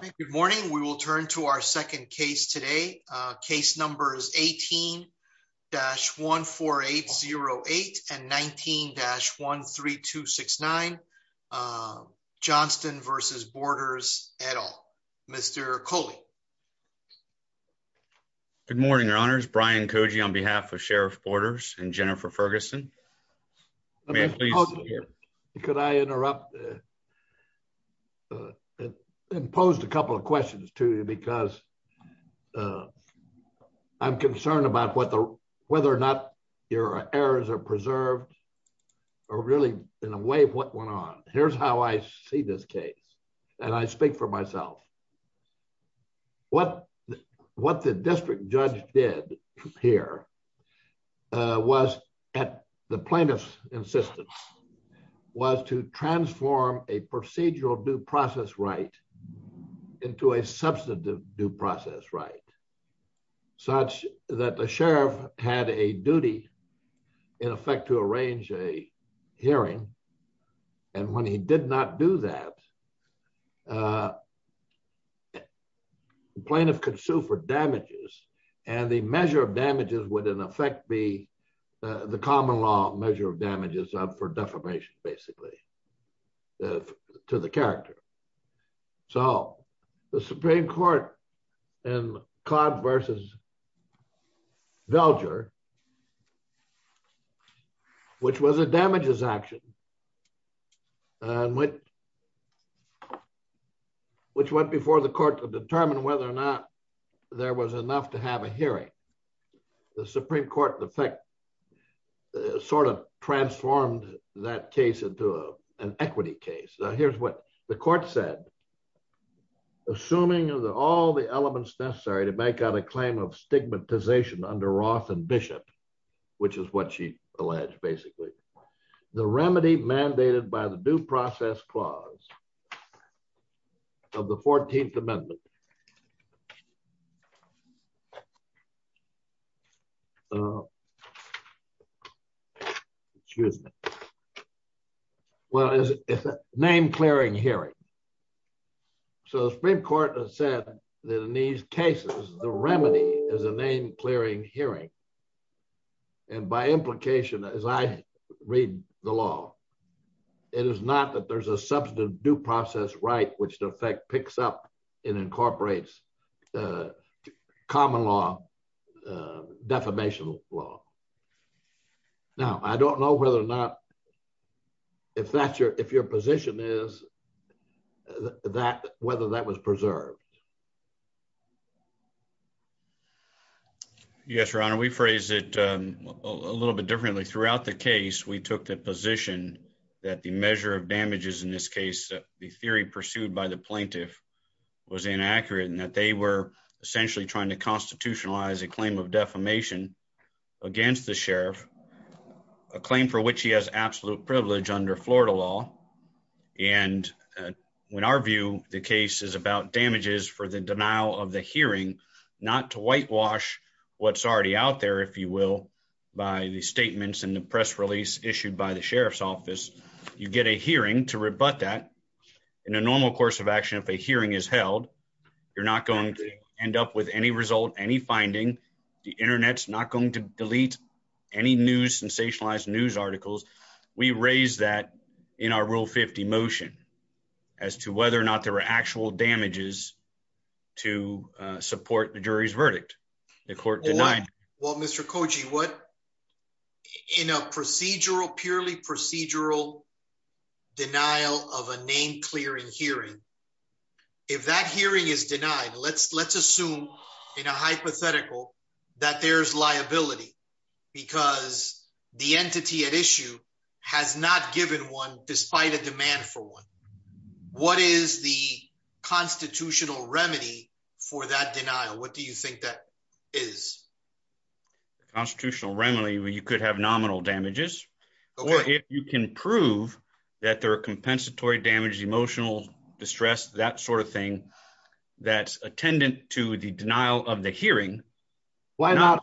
Good morning. We will turn to our second case today. Case numbers 18-14808 and 19-13269, Johnston v. Borders, et al. Mr. Coley. Good morning, Your Honors. Brian Cogey on behalf of Sheriff Borders and Jennifer Ferguson. May I please? Could I interrupt and pose a couple of questions to you because I'm concerned about whether or not your errors are preserved or really in a way what went on. Here's how I see this case and I speak for myself. What the district judge did here was at the plaintiff's insistence was to transform a procedural due process right into a substantive due process right such that the sheriff had a duty in effect to arrange a hearing and when he did not do that the plaintiff could sue for damages and the measure of damages would in effect be the common law measure of damages for defamation basically to the character. So the Supreme Court in Codd v. Velger which was a damages action and which went before the court to determine whether or not there was enough to have a hearing. The Supreme Court in effect sort of transformed that case into an equity case. Now here's what the court said. Assuming of all the elements necessary to make out a claim of stigmatization under Roth and Bishop which is what she alleged basically the remedy mandated by the due process clause of the 14th amendment. Excuse me. Well it's a name clearing hearing so the Supreme Court has said that in these cases the remedy is a name clearing hearing and by implication as I read the law it is not that there's a substantive due process right which in effect picks up and incorporates the common law defamation law. Now I don't know whether or not if that's your if your position is that whether that was preserved. Yes your honor we phrased it a little bit differently throughout the case we took the position that the measure of damages in this case the theory pursued by the plaintiff was inaccurate and that they were essentially trying to constitutionalize a claim of defamation against the sheriff a claim for which he has absolute privilege under Florida law and when our view the case is about damages for the denial of the hearing not to whitewash what's already out there if you will by the statements and the press release issued by the sheriff's office you get a hearing to rebut that in a normal course of action if a hearing is held you're not going to end up with any result any finding the internet's not going to delete any sensationalized news articles we raised that in our rule 50 motion as to whether or not there were actual damages to support the jury's verdict the court denied well mr koji what in a procedural purely procedural denial of a name clearing hearing if that hearing is denied let's assume in a hypothetical that there's liability because the entity at issue has not given one despite a demand for one what is the constitutional remedy for that denial what do you think that is the constitutional remedy where you could have nominal damages or if you can prove that there are compensatory damage emotional distress that sort of thing that's attendant to the denial of the hearing why not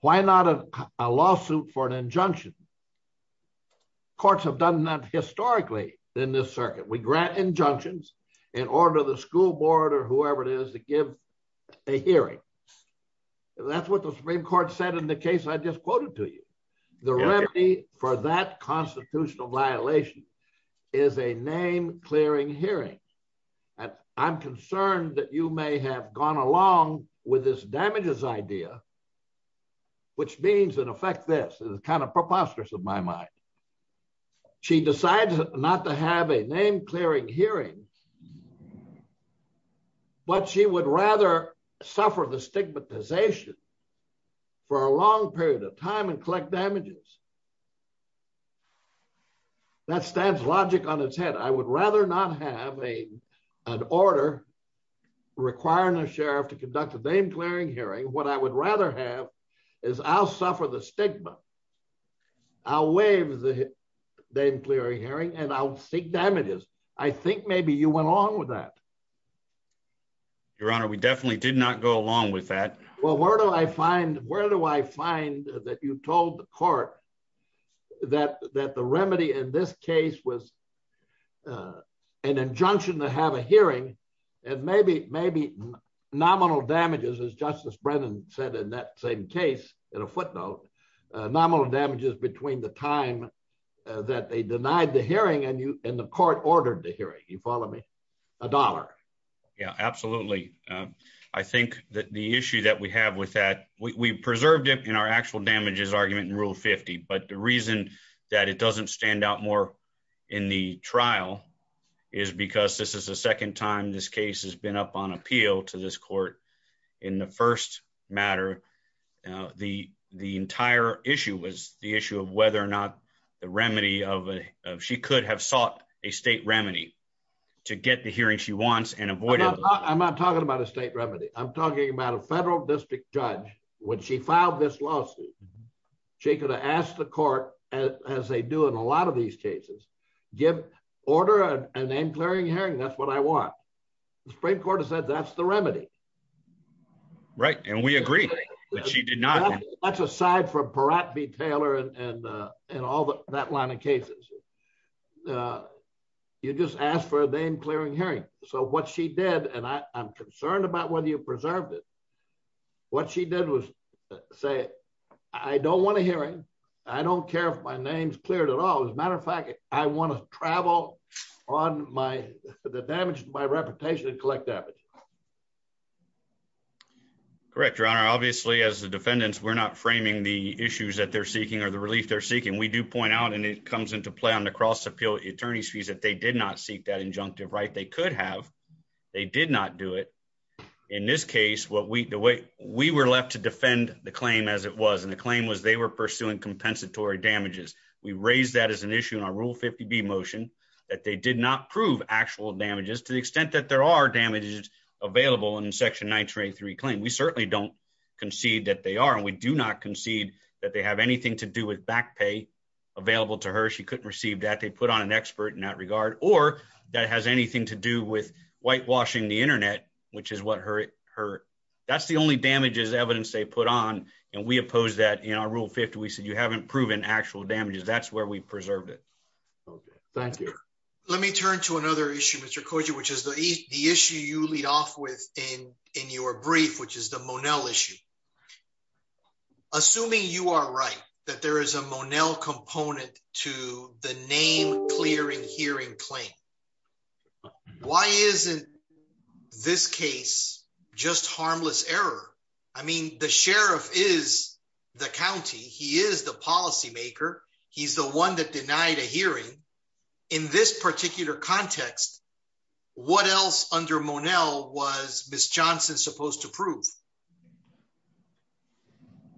why not a lawsuit for an injunction courts have done that historically in this circuit we grant injunctions in order the school board or whoever it is to give a hearing that's what the supreme court said in the case i just quoted to the remedy for that constitutional violation is a name clearing hearing and i'm concerned that you may have gone along with this damages idea which means in effect this is kind of preposterous of my mind she decides not to have a name clearing hearing but she would rather suffer the stigmatization for a long period of time and collect damages that stands logic on its head i would rather not have a an order requiring a sheriff to conduct a name clearing hearing what i would rather have is i'll suffer the stigma i'll waive the name clearing hearing and i'll seek damages i think maybe you went along with that your honor we definitely did not go along with that well where do i find where do i find that you told the court that that the remedy in this case was an injunction to have a hearing and maybe maybe nominal damages as justice brennan said in that same case in a footnote nominal damages between the time that they denied the hearing and you and the court ordered the hearing you follow me a dollar yeah absolutely i think that the issue that we have with that we preserved it in our actual damages argument in rule 50 but the reason that it doesn't stand out more in the trial is because this is the second time this case has been up on appeal to this court in the first matter uh the the entire issue was the issue of whether or not the remedy of she could have sought a state remedy to get the hearing she wants and avoided i'm not talking about a state remedy i'm talking about a federal district judge when she filed this lawsuit she could have asked the court as they do in a lot of these cases give order a name clearing hearing that's what i want the supreme court has said that's the remedy right and we agree but she did not that's aside from peratt v taylor and and uh and all that line of cases uh you just ask for a name clearing hearing so what she did and i i'm concerned about whether you preserved it what she did was say i don't want a hearing i don't care if my name's at all as a matter of fact i want to travel on my the damage to my reputation and collect damage correct your honor obviously as the defendants we're not framing the issues that they're seeking or the relief they're seeking we do point out and it comes into play on the cross appeal attorney's fees that they did not seek that injunctive right they could have they did not do it in this case what we the way we were left to defend the claim as it was and the claim was they were pursuing compensatory damages we raised that as an issue in our rule 50b motion that they did not prove actual damages to the extent that there are damages available in section 923 claim we certainly don't concede that they are and we do not concede that they have anything to do with back pay available to her she couldn't receive that they put on an expert in that regard or that has anything to do with whitewashing the internet which is what her her that's the only damages evidence they put on and we oppose that in our rule 50 we said you haven't proven actual damages that's where we preserved it okay thank you let me turn to another issue mr koji which is the the issue you lead off with in in your brief which is the monel issue assuming you are right that there is a monel component to the name clearing hearing claim but why isn't this case just harmless error i mean the sheriff is the county he is the policy maker he's the one that denied a hearing in this particular context what else under monel was miss johnson supposed to prove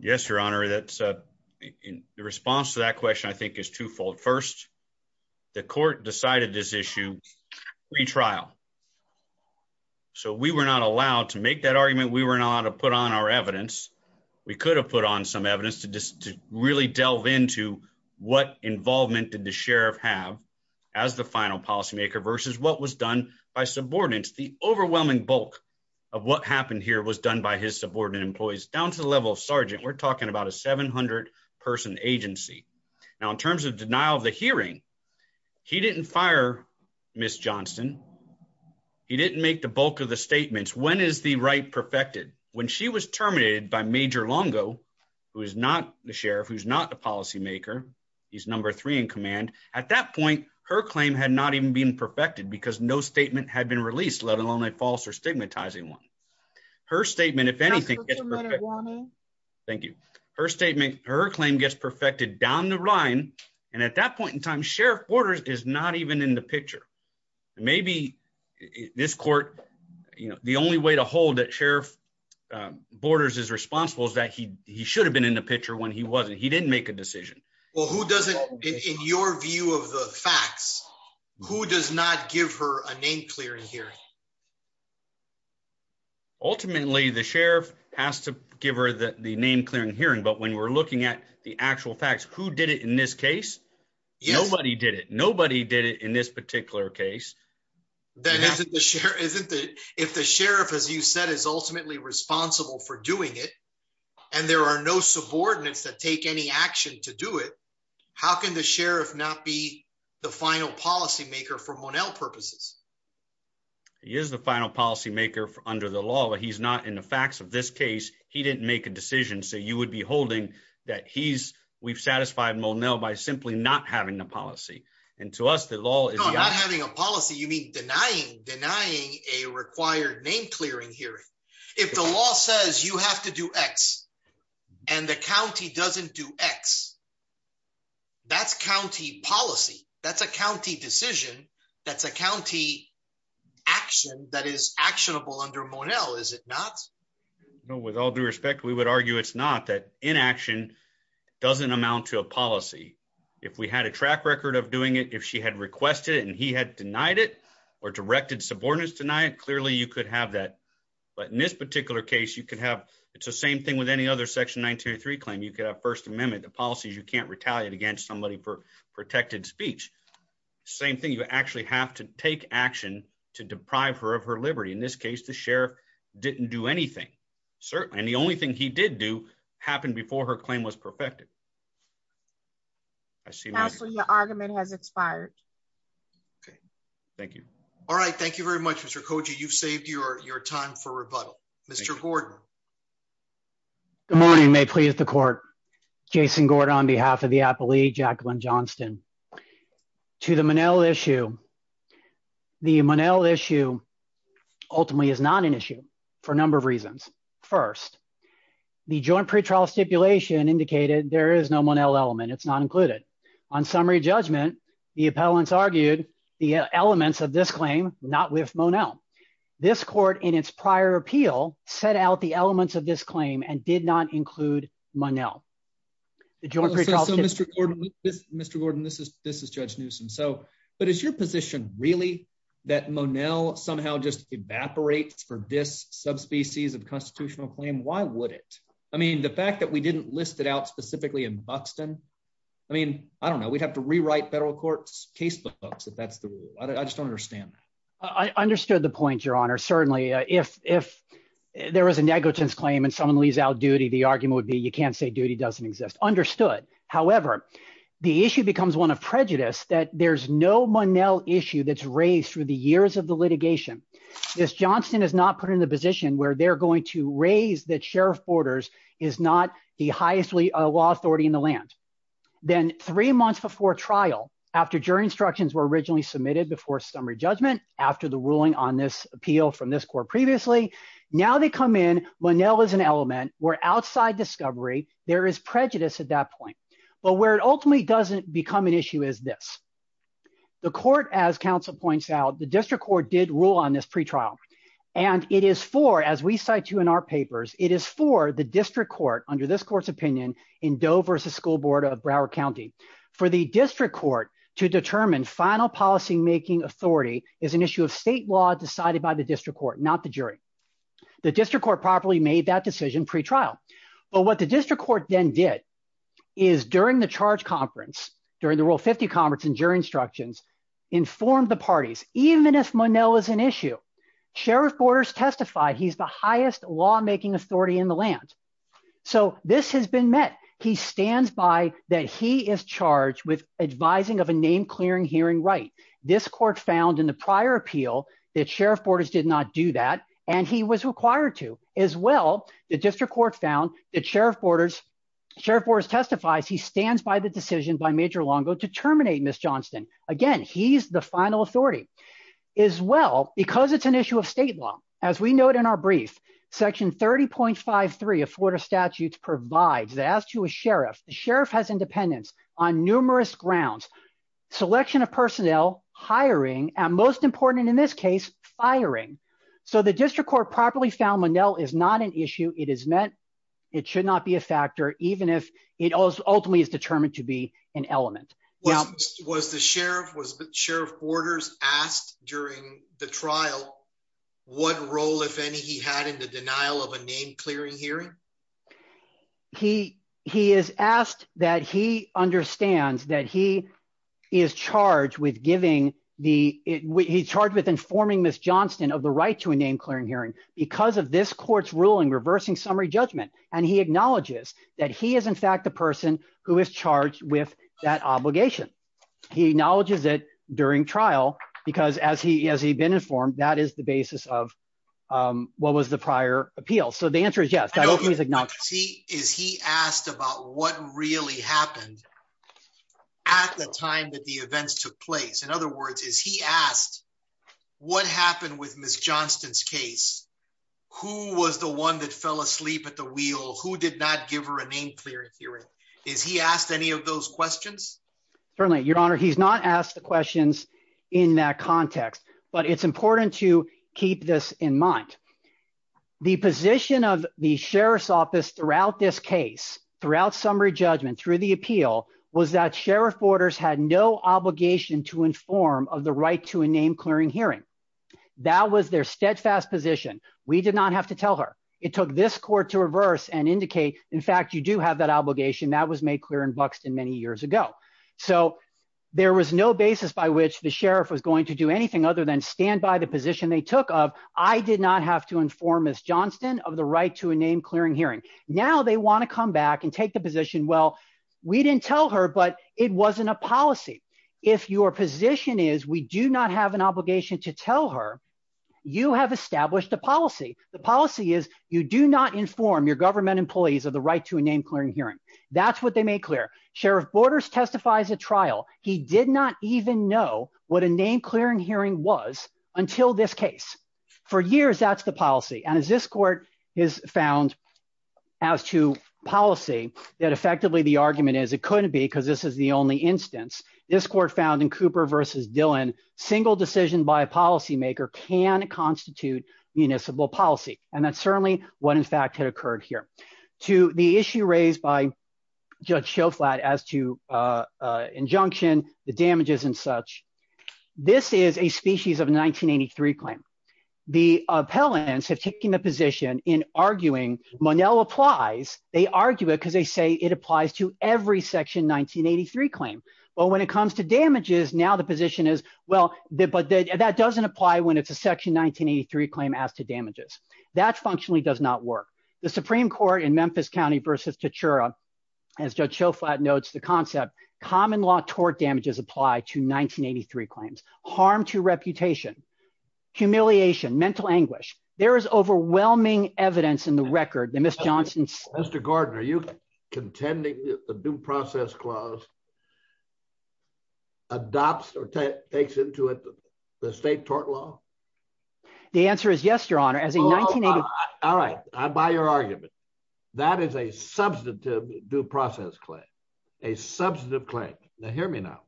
yes your honor that's uh in the response to that question i retrial so we were not allowed to make that argument we were not allowed to put on our evidence we could have put on some evidence to just to really delve into what involvement did the sheriff have as the final policymaker versus what was done by subordinates the overwhelming bulk of what happened here was done by his subordinate employees down to the level of sergeant we're talking about a 700 person agency now in terms of denial of the hearing he didn't fire miss johnson he didn't make the bulk of the statements when is the right perfected when she was terminated by major longo who is not the sheriff who's not a policymaker he's number three in command at that point her claim had not even been perfected because no statement had been released let alone a false or stigmatizing one her statement if anything thank you her statement her claim gets perfected down the line and at that point in time sheriff borders is not even in the picture maybe this court you know the only way to hold that sheriff borders is responsible is that he he should have been in the picture when he wasn't he didn't make a decision well who doesn't in your view of the facts who does not give her a name clearing hearing ultimately the sheriff has to give her the name clearing hearing but we're looking at the actual facts who did it in this case nobody did it nobody did it in this particular case that isn't the sheriff isn't it if the sheriff as you said is ultimately responsible for doing it and there are no subordinates that take any action to do it how can the sheriff not be the final policymaker for monel purposes he is the final policymaker under the law but he's not in the facts of this case he didn't make a decision so you would be holding that he's we've satisfied monel by simply not having a policy and to us the law is not having a policy you mean denying denying a required name clearing hearing if the law says you have to do x and the county doesn't do x that's county policy that's a county decision that's a county action that is actionable under monel is it not no with all due respect we would argue it's not that inaction doesn't amount to a policy if we had a track record of doing it if she had requested it and he had denied it or directed subordinates tonight clearly you could have that but in this particular case you could have it's the same thing with any other section 1903 claim you could have first amendment the policies you can't retaliate against somebody for protected speech same thing you actually have to take action to deprive her of her liberty in this case the sheriff didn't do anything certainly and the only thing he did do happened before her claim was perfected i see your argument has expired okay thank you all right thank you very much mr koji you've saved your your time for rebuttal mr gordon good morning may please the court jason gordon on the monel issue ultimately is not an issue for a number of reasons first the joint pre-trial stipulation indicated there is no monel element it's not included on summary judgment the appellants argued the elements of this claim not with monel this court in its prior appeal set out the elements of this claim and did not include monel the joint pre-trial mr gordon this mr gordon this is this judge newsome so but is your position really that monel somehow just evaporates for this subspecies of constitutional claim why would it i mean the fact that we didn't list it out specifically in buxton i mean i don't know we'd have to rewrite federal court's case books if that's the rule i just don't understand that i understood the point your honor certainly if if there was a negligence claim and someone leaves out duty the argument would be you can't say understood however the issue becomes one of prejudice that there's no monel issue that's raised through the years of the litigation this johnston is not put in the position where they're going to raise that sheriff borders is not the highest law authority in the land then three months before trial after jury instructions were originally submitted before summary judgment after the ruling on this appeal from this court previously now they come in monel is an element where outside discovery there is prejudice at that point but where it ultimately doesn't become an issue is this the court as council points out the district court did rule on this pre-trial and it is for as we cite you in our papers it is for the district court under this court's opinion in dove versus school board of broward county for the district court to determine final policy making authority is an issue of state law decided by the district court not the jury the district court properly made that decision pre-trial but what the district court then did is during the charge conference during the rule 50 conference and jury instructions informed the parties even if monel is an issue sheriff borders testified he's the highest law making authority in the land so this has been met he stands by that he is charged with advising of a name clearing hearing right this court found in the prior appeal that sheriff borders did not do that and he was required to as well the district court found that sheriff borders sheriff borders testifies he stands by the decision by major longo to terminate miss johnston again he's the final authority as well because it's an issue of state law as we note in our brief section 30.53 of florida statutes provides that as to a sheriff the sheriff has independence on numerous grounds selection of personnel hiring and most important in this case firing so the district court properly found monel is not an issue it is meant it should not be a factor even if it ultimately is determined to be an element was the sheriff was the sheriff borders asked during the trial what role if any he in the denial of a name clearing hearing he he is asked that he understands that he is charged with giving the he's charged with informing miss johnston of the right to a name clearing hearing because of this court's ruling reversing summary judgment and he acknowledges that he is in fact the person who is charged with that obligation he acknowledges it during trial because as he has he been informed that is the basis of what was the prior appeal so the answer is yes he is he asked about what really happened at the time that the events took place in other words is he asked what happened with miss johnston's case who was the one that fell asleep at the wheel who did not give her a name clearing hearing is he asked any of those questions certainly your honor he's not asked the questions in that context but it's important to keep this in mind the position of the sheriff's office throughout this case throughout summary judgment through the appeal was that sheriff borders had no obligation to inform of the right to a name clearing hearing that was their steadfast position we did not have to tell her it took this court to reverse and indicate in fact you do have that obligation that was made clear in buxton many years ago so there was no basis by which the sheriff was going to do anything other than stand by the position they took of i did not have to inform miss johnston of the right to a name clearing hearing now they want to come back and take the position well we didn't tell her but it wasn't a policy if your position is we do not have an obligation to tell her you have established a policy the policy is you do not inform your government employees of the right to a name clearing hearing that's what they made clear sheriff borders testifies at trial he did not even know what a name clearing hearing was until this case for years that's the policy and as this court is found as to policy that effectively the argument is it couldn't be because this is the only instance this court found in cooper versus dylan single decision by a policymaker can constitute municipal policy and that's certainly what in fact had occurred here to the issue raised by judge show flat as to uh injunction the damages and such this is a species of 1983 claim the appellants have taken the position in arguing monel applies they argue it because they say it applies to every section 1983 claim but when it comes to damages now the position is well but that doesn't apply when it's a section 1983 claim as to damages that functionally does not work the supreme court in memphis county versus tachura as judge show flat notes the concept common law tort damages apply to 1983 claims harm to reputation humiliation mental anguish there is overwhelming evidence in the record the miss johnson's mr gordon are you contending the due the state tort law the answer is yes your honor as a 1980 all right i buy your argument that is a substantive due process claim a substantive claim now hear me now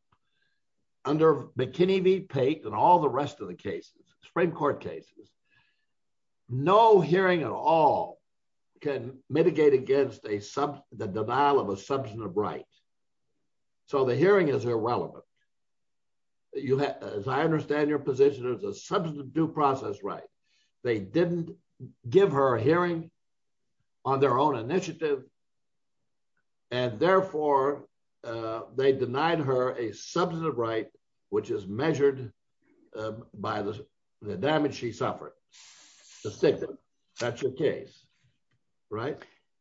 under mckinney v pate and all the rest of the cases supreme court cases no hearing at all can mitigate against a sub the denial of a substantive right so the hearing is irrelevant you have as i understand your position is a substantive due process right they didn't give her a hearing on their own initiative and therefore uh they denied her a substantive right which is measured by the damage she suffered the stigma that's your case right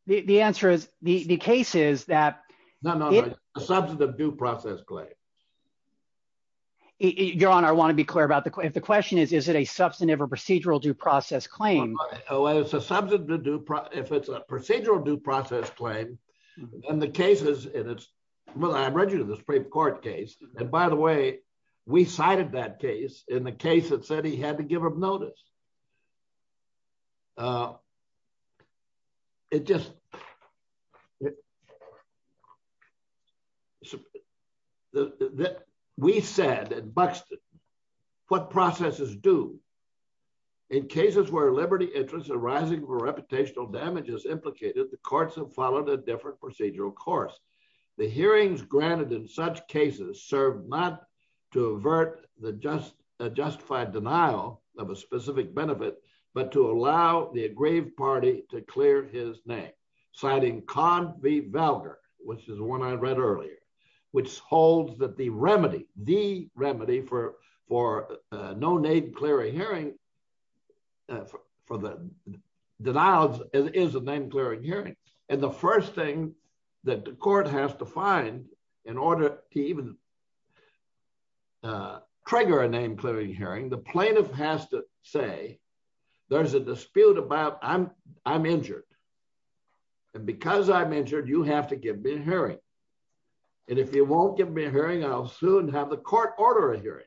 the the answer is the the case is that no no no a substantive due process claim your honor i want to be clear about the if the question is is it a substantive or procedural due process claim oh it's a subject to do if it's a procedural due process claim and the cases and it's well i read you the supreme court case and by the way we cited that case in the case that said he had to give him notice uh it just so the the we said at buxton what processes do in cases where liberty interest arising for reputational damage is implicated the courts have followed a different procedural course the hearings granted in such cases served not to avert the just a justified denial of a specific benefit but to allow the aggrieved party to clear his name citing cod v valgar which is one i read earlier which holds that the remedy the remedy for for uh no name clearing hearing for the denials is a name clearing hearing and the first thing that the court has to find in order to even uh trigger a name clearing hearing the plaintiff has to say there's a dispute about i'm i'm injured and because i'm injured you have to give me a hearing and if you won't give me a hearing i'll soon have the court order a hearing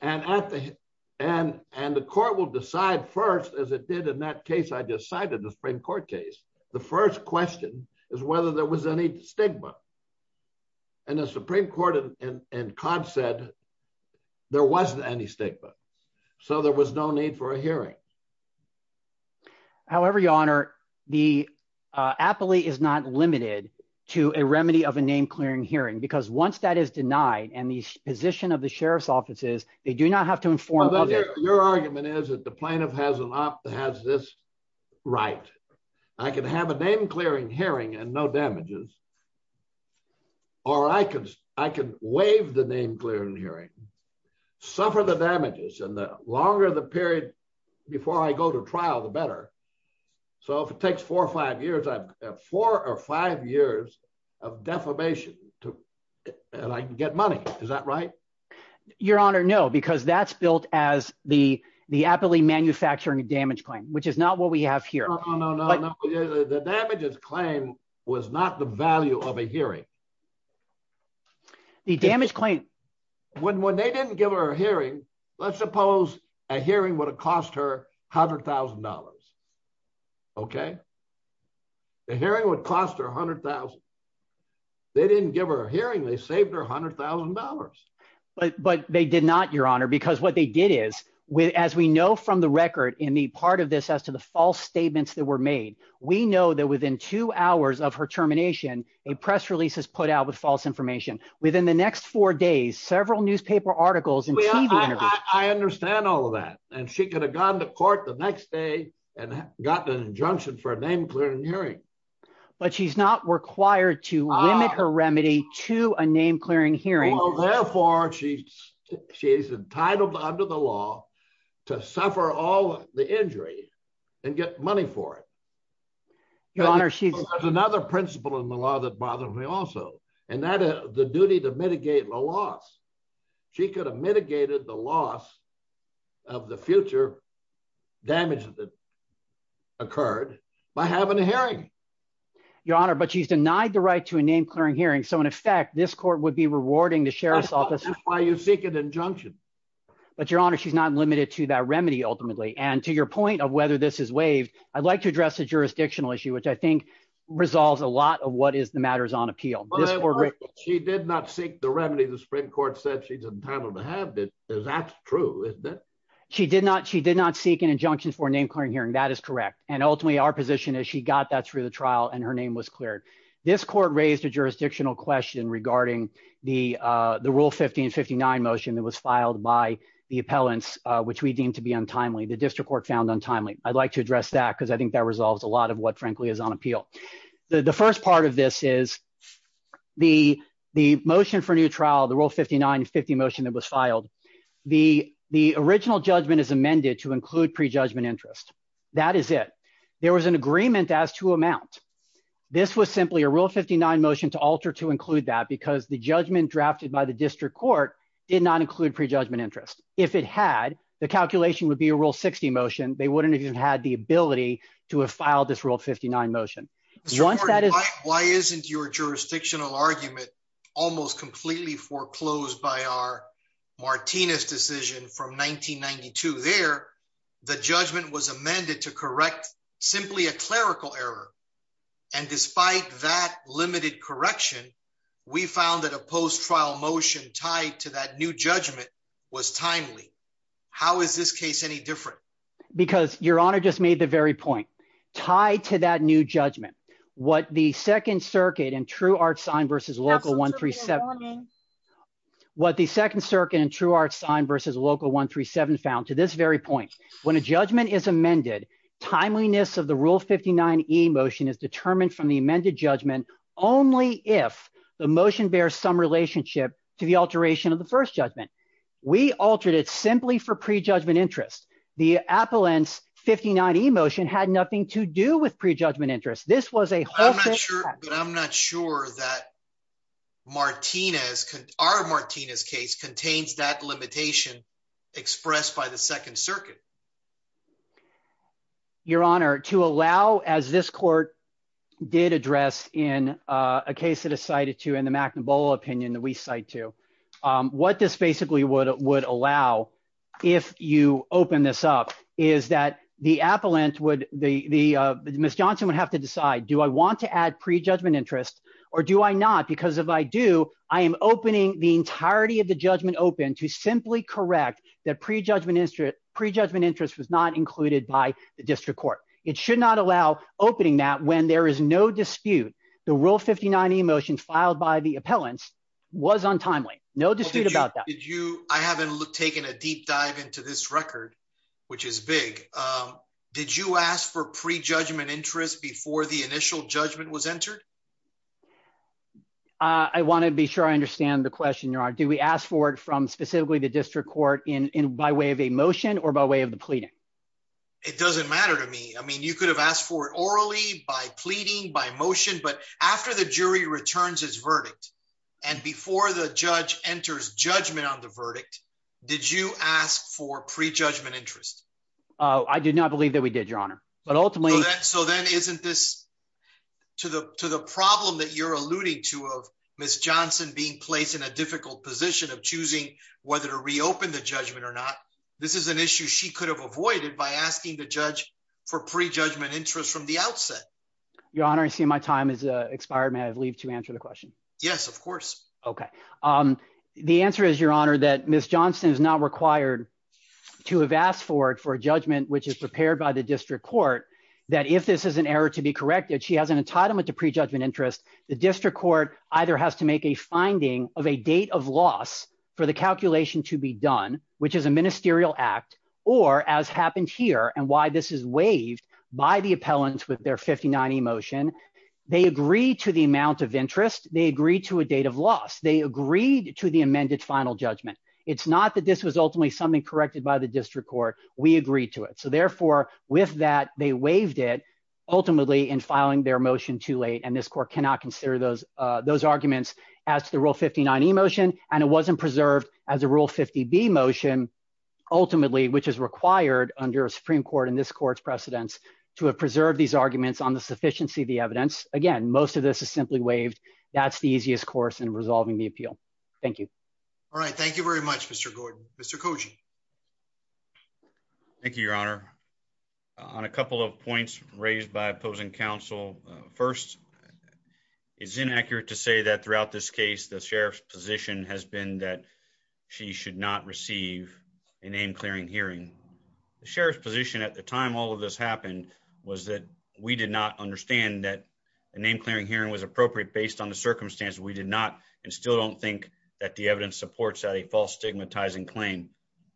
and at the end and the court will decide first as it did in that case i decided the supreme court case the first question is whether there was any stigma and the supreme court and cod said there wasn't any stigma so there was no need for a hearing however your honor the uh aptly is not limited to a remedy of a name clearing hearing because once that is denied and the position of the sheriff's offices they do not have to inform your argument is that the plaintiff has an op that has this right i can have a name clearing hearing and no damages or i can i can waive the name clearing hearing suffer the damages and the longer the period before i go to trial the better so if it takes four or five years i've four or five years of defamation to and i can get money is that right your honor no because that's built as the the aptly manufacturing damage claim which is not what we have here no no the damages claim was not the value of a hearing the damage claim when when they didn't give her a hearing let's suppose a hearing would have cost her a hundred thousand dollars okay the hearing would cost her a hundred thousand they didn't give her a hearing they saved her a hundred thousand dollars but but they did not your honor because what they did is with as we know from the record in the part of this as to the statements that were made we know that within two hours of her termination a press release is put out with false information within the next four days several newspaper articles and i understand all of that and she could have gone to court the next day and gotten an injunction for a name clearing hearing but she's not required to limit her remedy to a name clearing hearing well therefore she's entitled under the law to suffer all the injury and get money for it your honor she's another principle in the law that bothers me also and that the duty to mitigate the loss she could have mitigated the loss of the future damage that occurred by having a hearing your honor but she's denied the right to a name clearing hearing so in effect this court would be rewarding the sheriff's office why you seek an injunction but your honor she's not limited to that remedy ultimately and to your point of whether this is waived i'd like to address a jurisdictional issue which i think resolves a lot of what is the matters on appeal she did not seek the remedy the supreme court said she's entitled to have it that's true isn't it she did not she did not seek an injunction for a name clearing hearing that is correct and ultimately our position is she got that through the trial and her name was cleared this court raised a jurisdictional question regarding the rule 50 and 59 motion that was filed by the appellants which we deemed to be untimely the district court found untimely i'd like to address that because i think that resolves a lot of what frankly is on appeal the first part of this is the motion for new trial the rule 59 50 motion that was filed the original judgment is amended to include pre-judgment interest that is it there was an agreement as to amount this was simply a rule 59 motion to alter to include that because the judgment drafted by the district court did not include pre-judgment interest if it had the calculation would be a rule 60 motion they wouldn't have had the ability to have filed this rule 59 motion once that is why isn't your jurisdictional argument almost completely foreclosed by our martinez decision from 1992 there the judgment was amended to correct simply a clerical error and despite that limited correction we found that a post-trial motion tied to that new judgment was timely how is this case any different because your honor just made the very point tied to that new judgment what the second circuit and true art sign versus local 137 what the second circuit and true art sign versus local 137 found to this very point when a judgment is amended timeliness of the rule 59 e motion is determined from the amended judgment only if the motion bears some relationship to the alteration of the first judgment we altered it simply for pre-judgment interest the appellants 59 e motion had nothing to do with pre-judgment interest this was a i'm not sure but i'm not sure that martinez our martinez case contains that limitation expressed by the second circuit your honor to allow as this court did address in uh a case that is cited to in the mcnabola opinion that we cite to um what this basically would would allow if you open this up is that the appellant would the the uh miss johnson would have to decide do i want to add pre-judgment interest or do i not because if i do i am opening the correct that pre-judgment interest pre-judgment interest was not included by the district court it should not allow opening that when there is no dispute the rule 59 e motion filed by the appellants was untimely no dispute about that did you i haven't taken a deep dive into this record which is big um did you ask for pre-judgment interest before the initial judgment was entered uh i want to be sure i understand the question your honor do we ask for it from specifically the district court in in by way of a motion or by way of the pleading it doesn't matter to me i mean you could have asked for it orally by pleading by motion but after the jury returns his verdict and before the judge enters judgment on the verdict did you ask for pre-judgment interest oh i did not believe that we did your honor but ultimately so then isn't this to the to the problem that you're alluding to of miss johnson being placed in a difficult position of choosing whether to reopen the judgment or not this is an issue she could have avoided by asking the judge for pre-judgment interest from the outset your honor i see my time is uh expired may i leave to answer the question yes of course okay um the answer is your honor that miss johnson is not required to have asked for it for a judgment which is prepared by the she has an entitlement to pre-judgment interest the district court either has to make a finding of a date of loss for the calculation to be done which is a ministerial act or as happened here and why this is waived by the appellants with their 59e motion they agree to the amount of interest they agree to a date of loss they agreed to the amended final judgment it's not that this was ultimately something corrected by the district court we agreed to it so therefore with that they waived it ultimately in filing their motion too late and this court cannot consider those uh those arguments as to the rule 59e motion and it wasn't preserved as a rule 50b motion ultimately which is required under a supreme court in this court's precedents to have preserved these arguments on the sufficiency of the evidence again most of this is simply waived that's the easiest course in resolving the appeal thank you all right thank you very much mr gordon mr koji thank you your honor on a couple of points raised by opposing counsel first it's inaccurate to say that throughout this case the sheriff's position has been that she should not receive a name clearing hearing the sheriff's position at the time all of this happened was that we did not understand that a name clearing hearing was appropriate based on the circumstance we did not and still don't think that the evidence supports that a false stigmatizing claim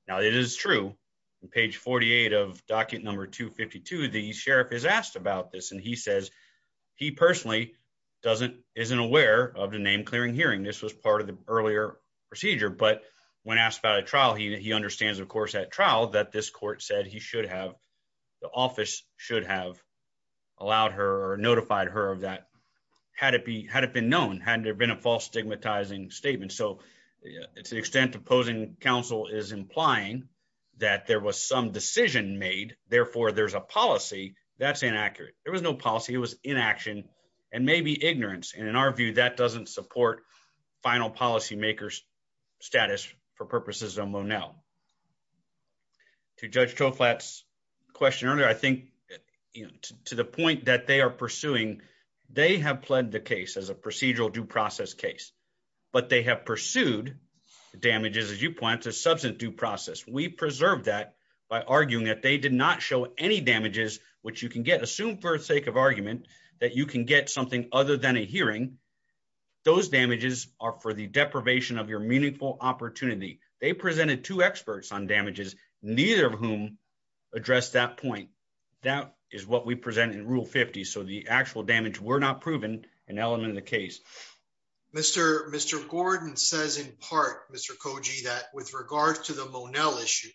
now it is true on page 48 of document number 252 the sheriff is asked about this and he says he personally doesn't isn't aware of the name clearing hearing this was part of the earlier procedure but when asked about a trial he understands of course that trial that this court said he should have the office should have allowed her or notified her of that had it be had it been known hadn't there been a false stigmatizing statement so to the extent opposing counsel is implying that there was some decision made therefore there's a policy that's inaccurate there was no policy it was inaction and maybe ignorance and in our view that doesn't support final policy makers status for purposes of monel to judge choklat's question earlier i think to the point that they are pursuing they have the case as a procedural due process case but they have pursued the damages as you point to substance due process we preserve that by arguing that they did not show any damages which you can get assumed for the sake of argument that you can get something other than a hearing those damages are for the deprivation of your meaningful opportunity they presented two experts on damages neither of whom addressed that point that is what we present in rule 50 so the actual damage were not proven an element of the case mr mr gordon says in part mr koji that with regards to the monel issue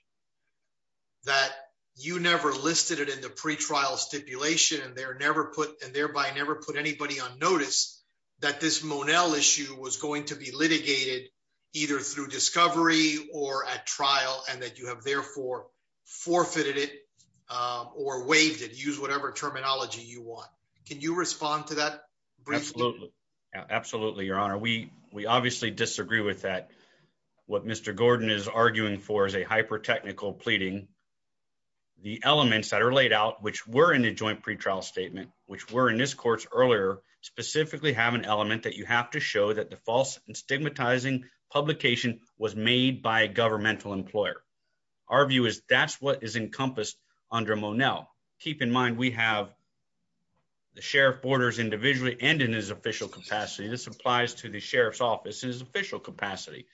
that you never listed it in the pre-trial stipulation and there never put and thereby never put anybody on notice that this monel issue was going to be litigated either through discovery or at trial and that you have therefore forfeited it or waived it use whatever terminology you want can you respond to that absolutely absolutely your honor we we obviously disagree with that what mr gordon is arguing for is a hyper technical pleading the elements that are laid out which were in the joint pre-trial statement which were in this course earlier specifically have an element that you have to show that the false and stigmatizing publication was made by a governmental employer our view is that's what is encompassed under monel keep in mind we have the sheriff borders individually and in his official capacity this applies to the sheriff's office in his official capacity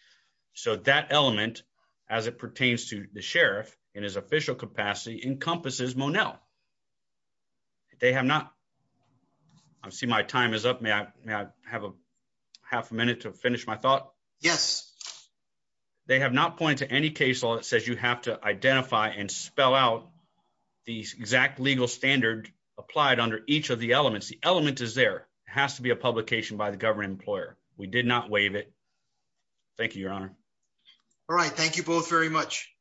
so that element as it pertains to the sheriff in his official capacity encompasses monel they have not i see my time is up may i may i have a half a minute to finish my thought yes they have not pointed to any case law that says you have to identify and spell out the exact legal standard applied under each of the elements the element is there has to be a publication by the government employer we did not waive it thank you your honor all right thank you both very much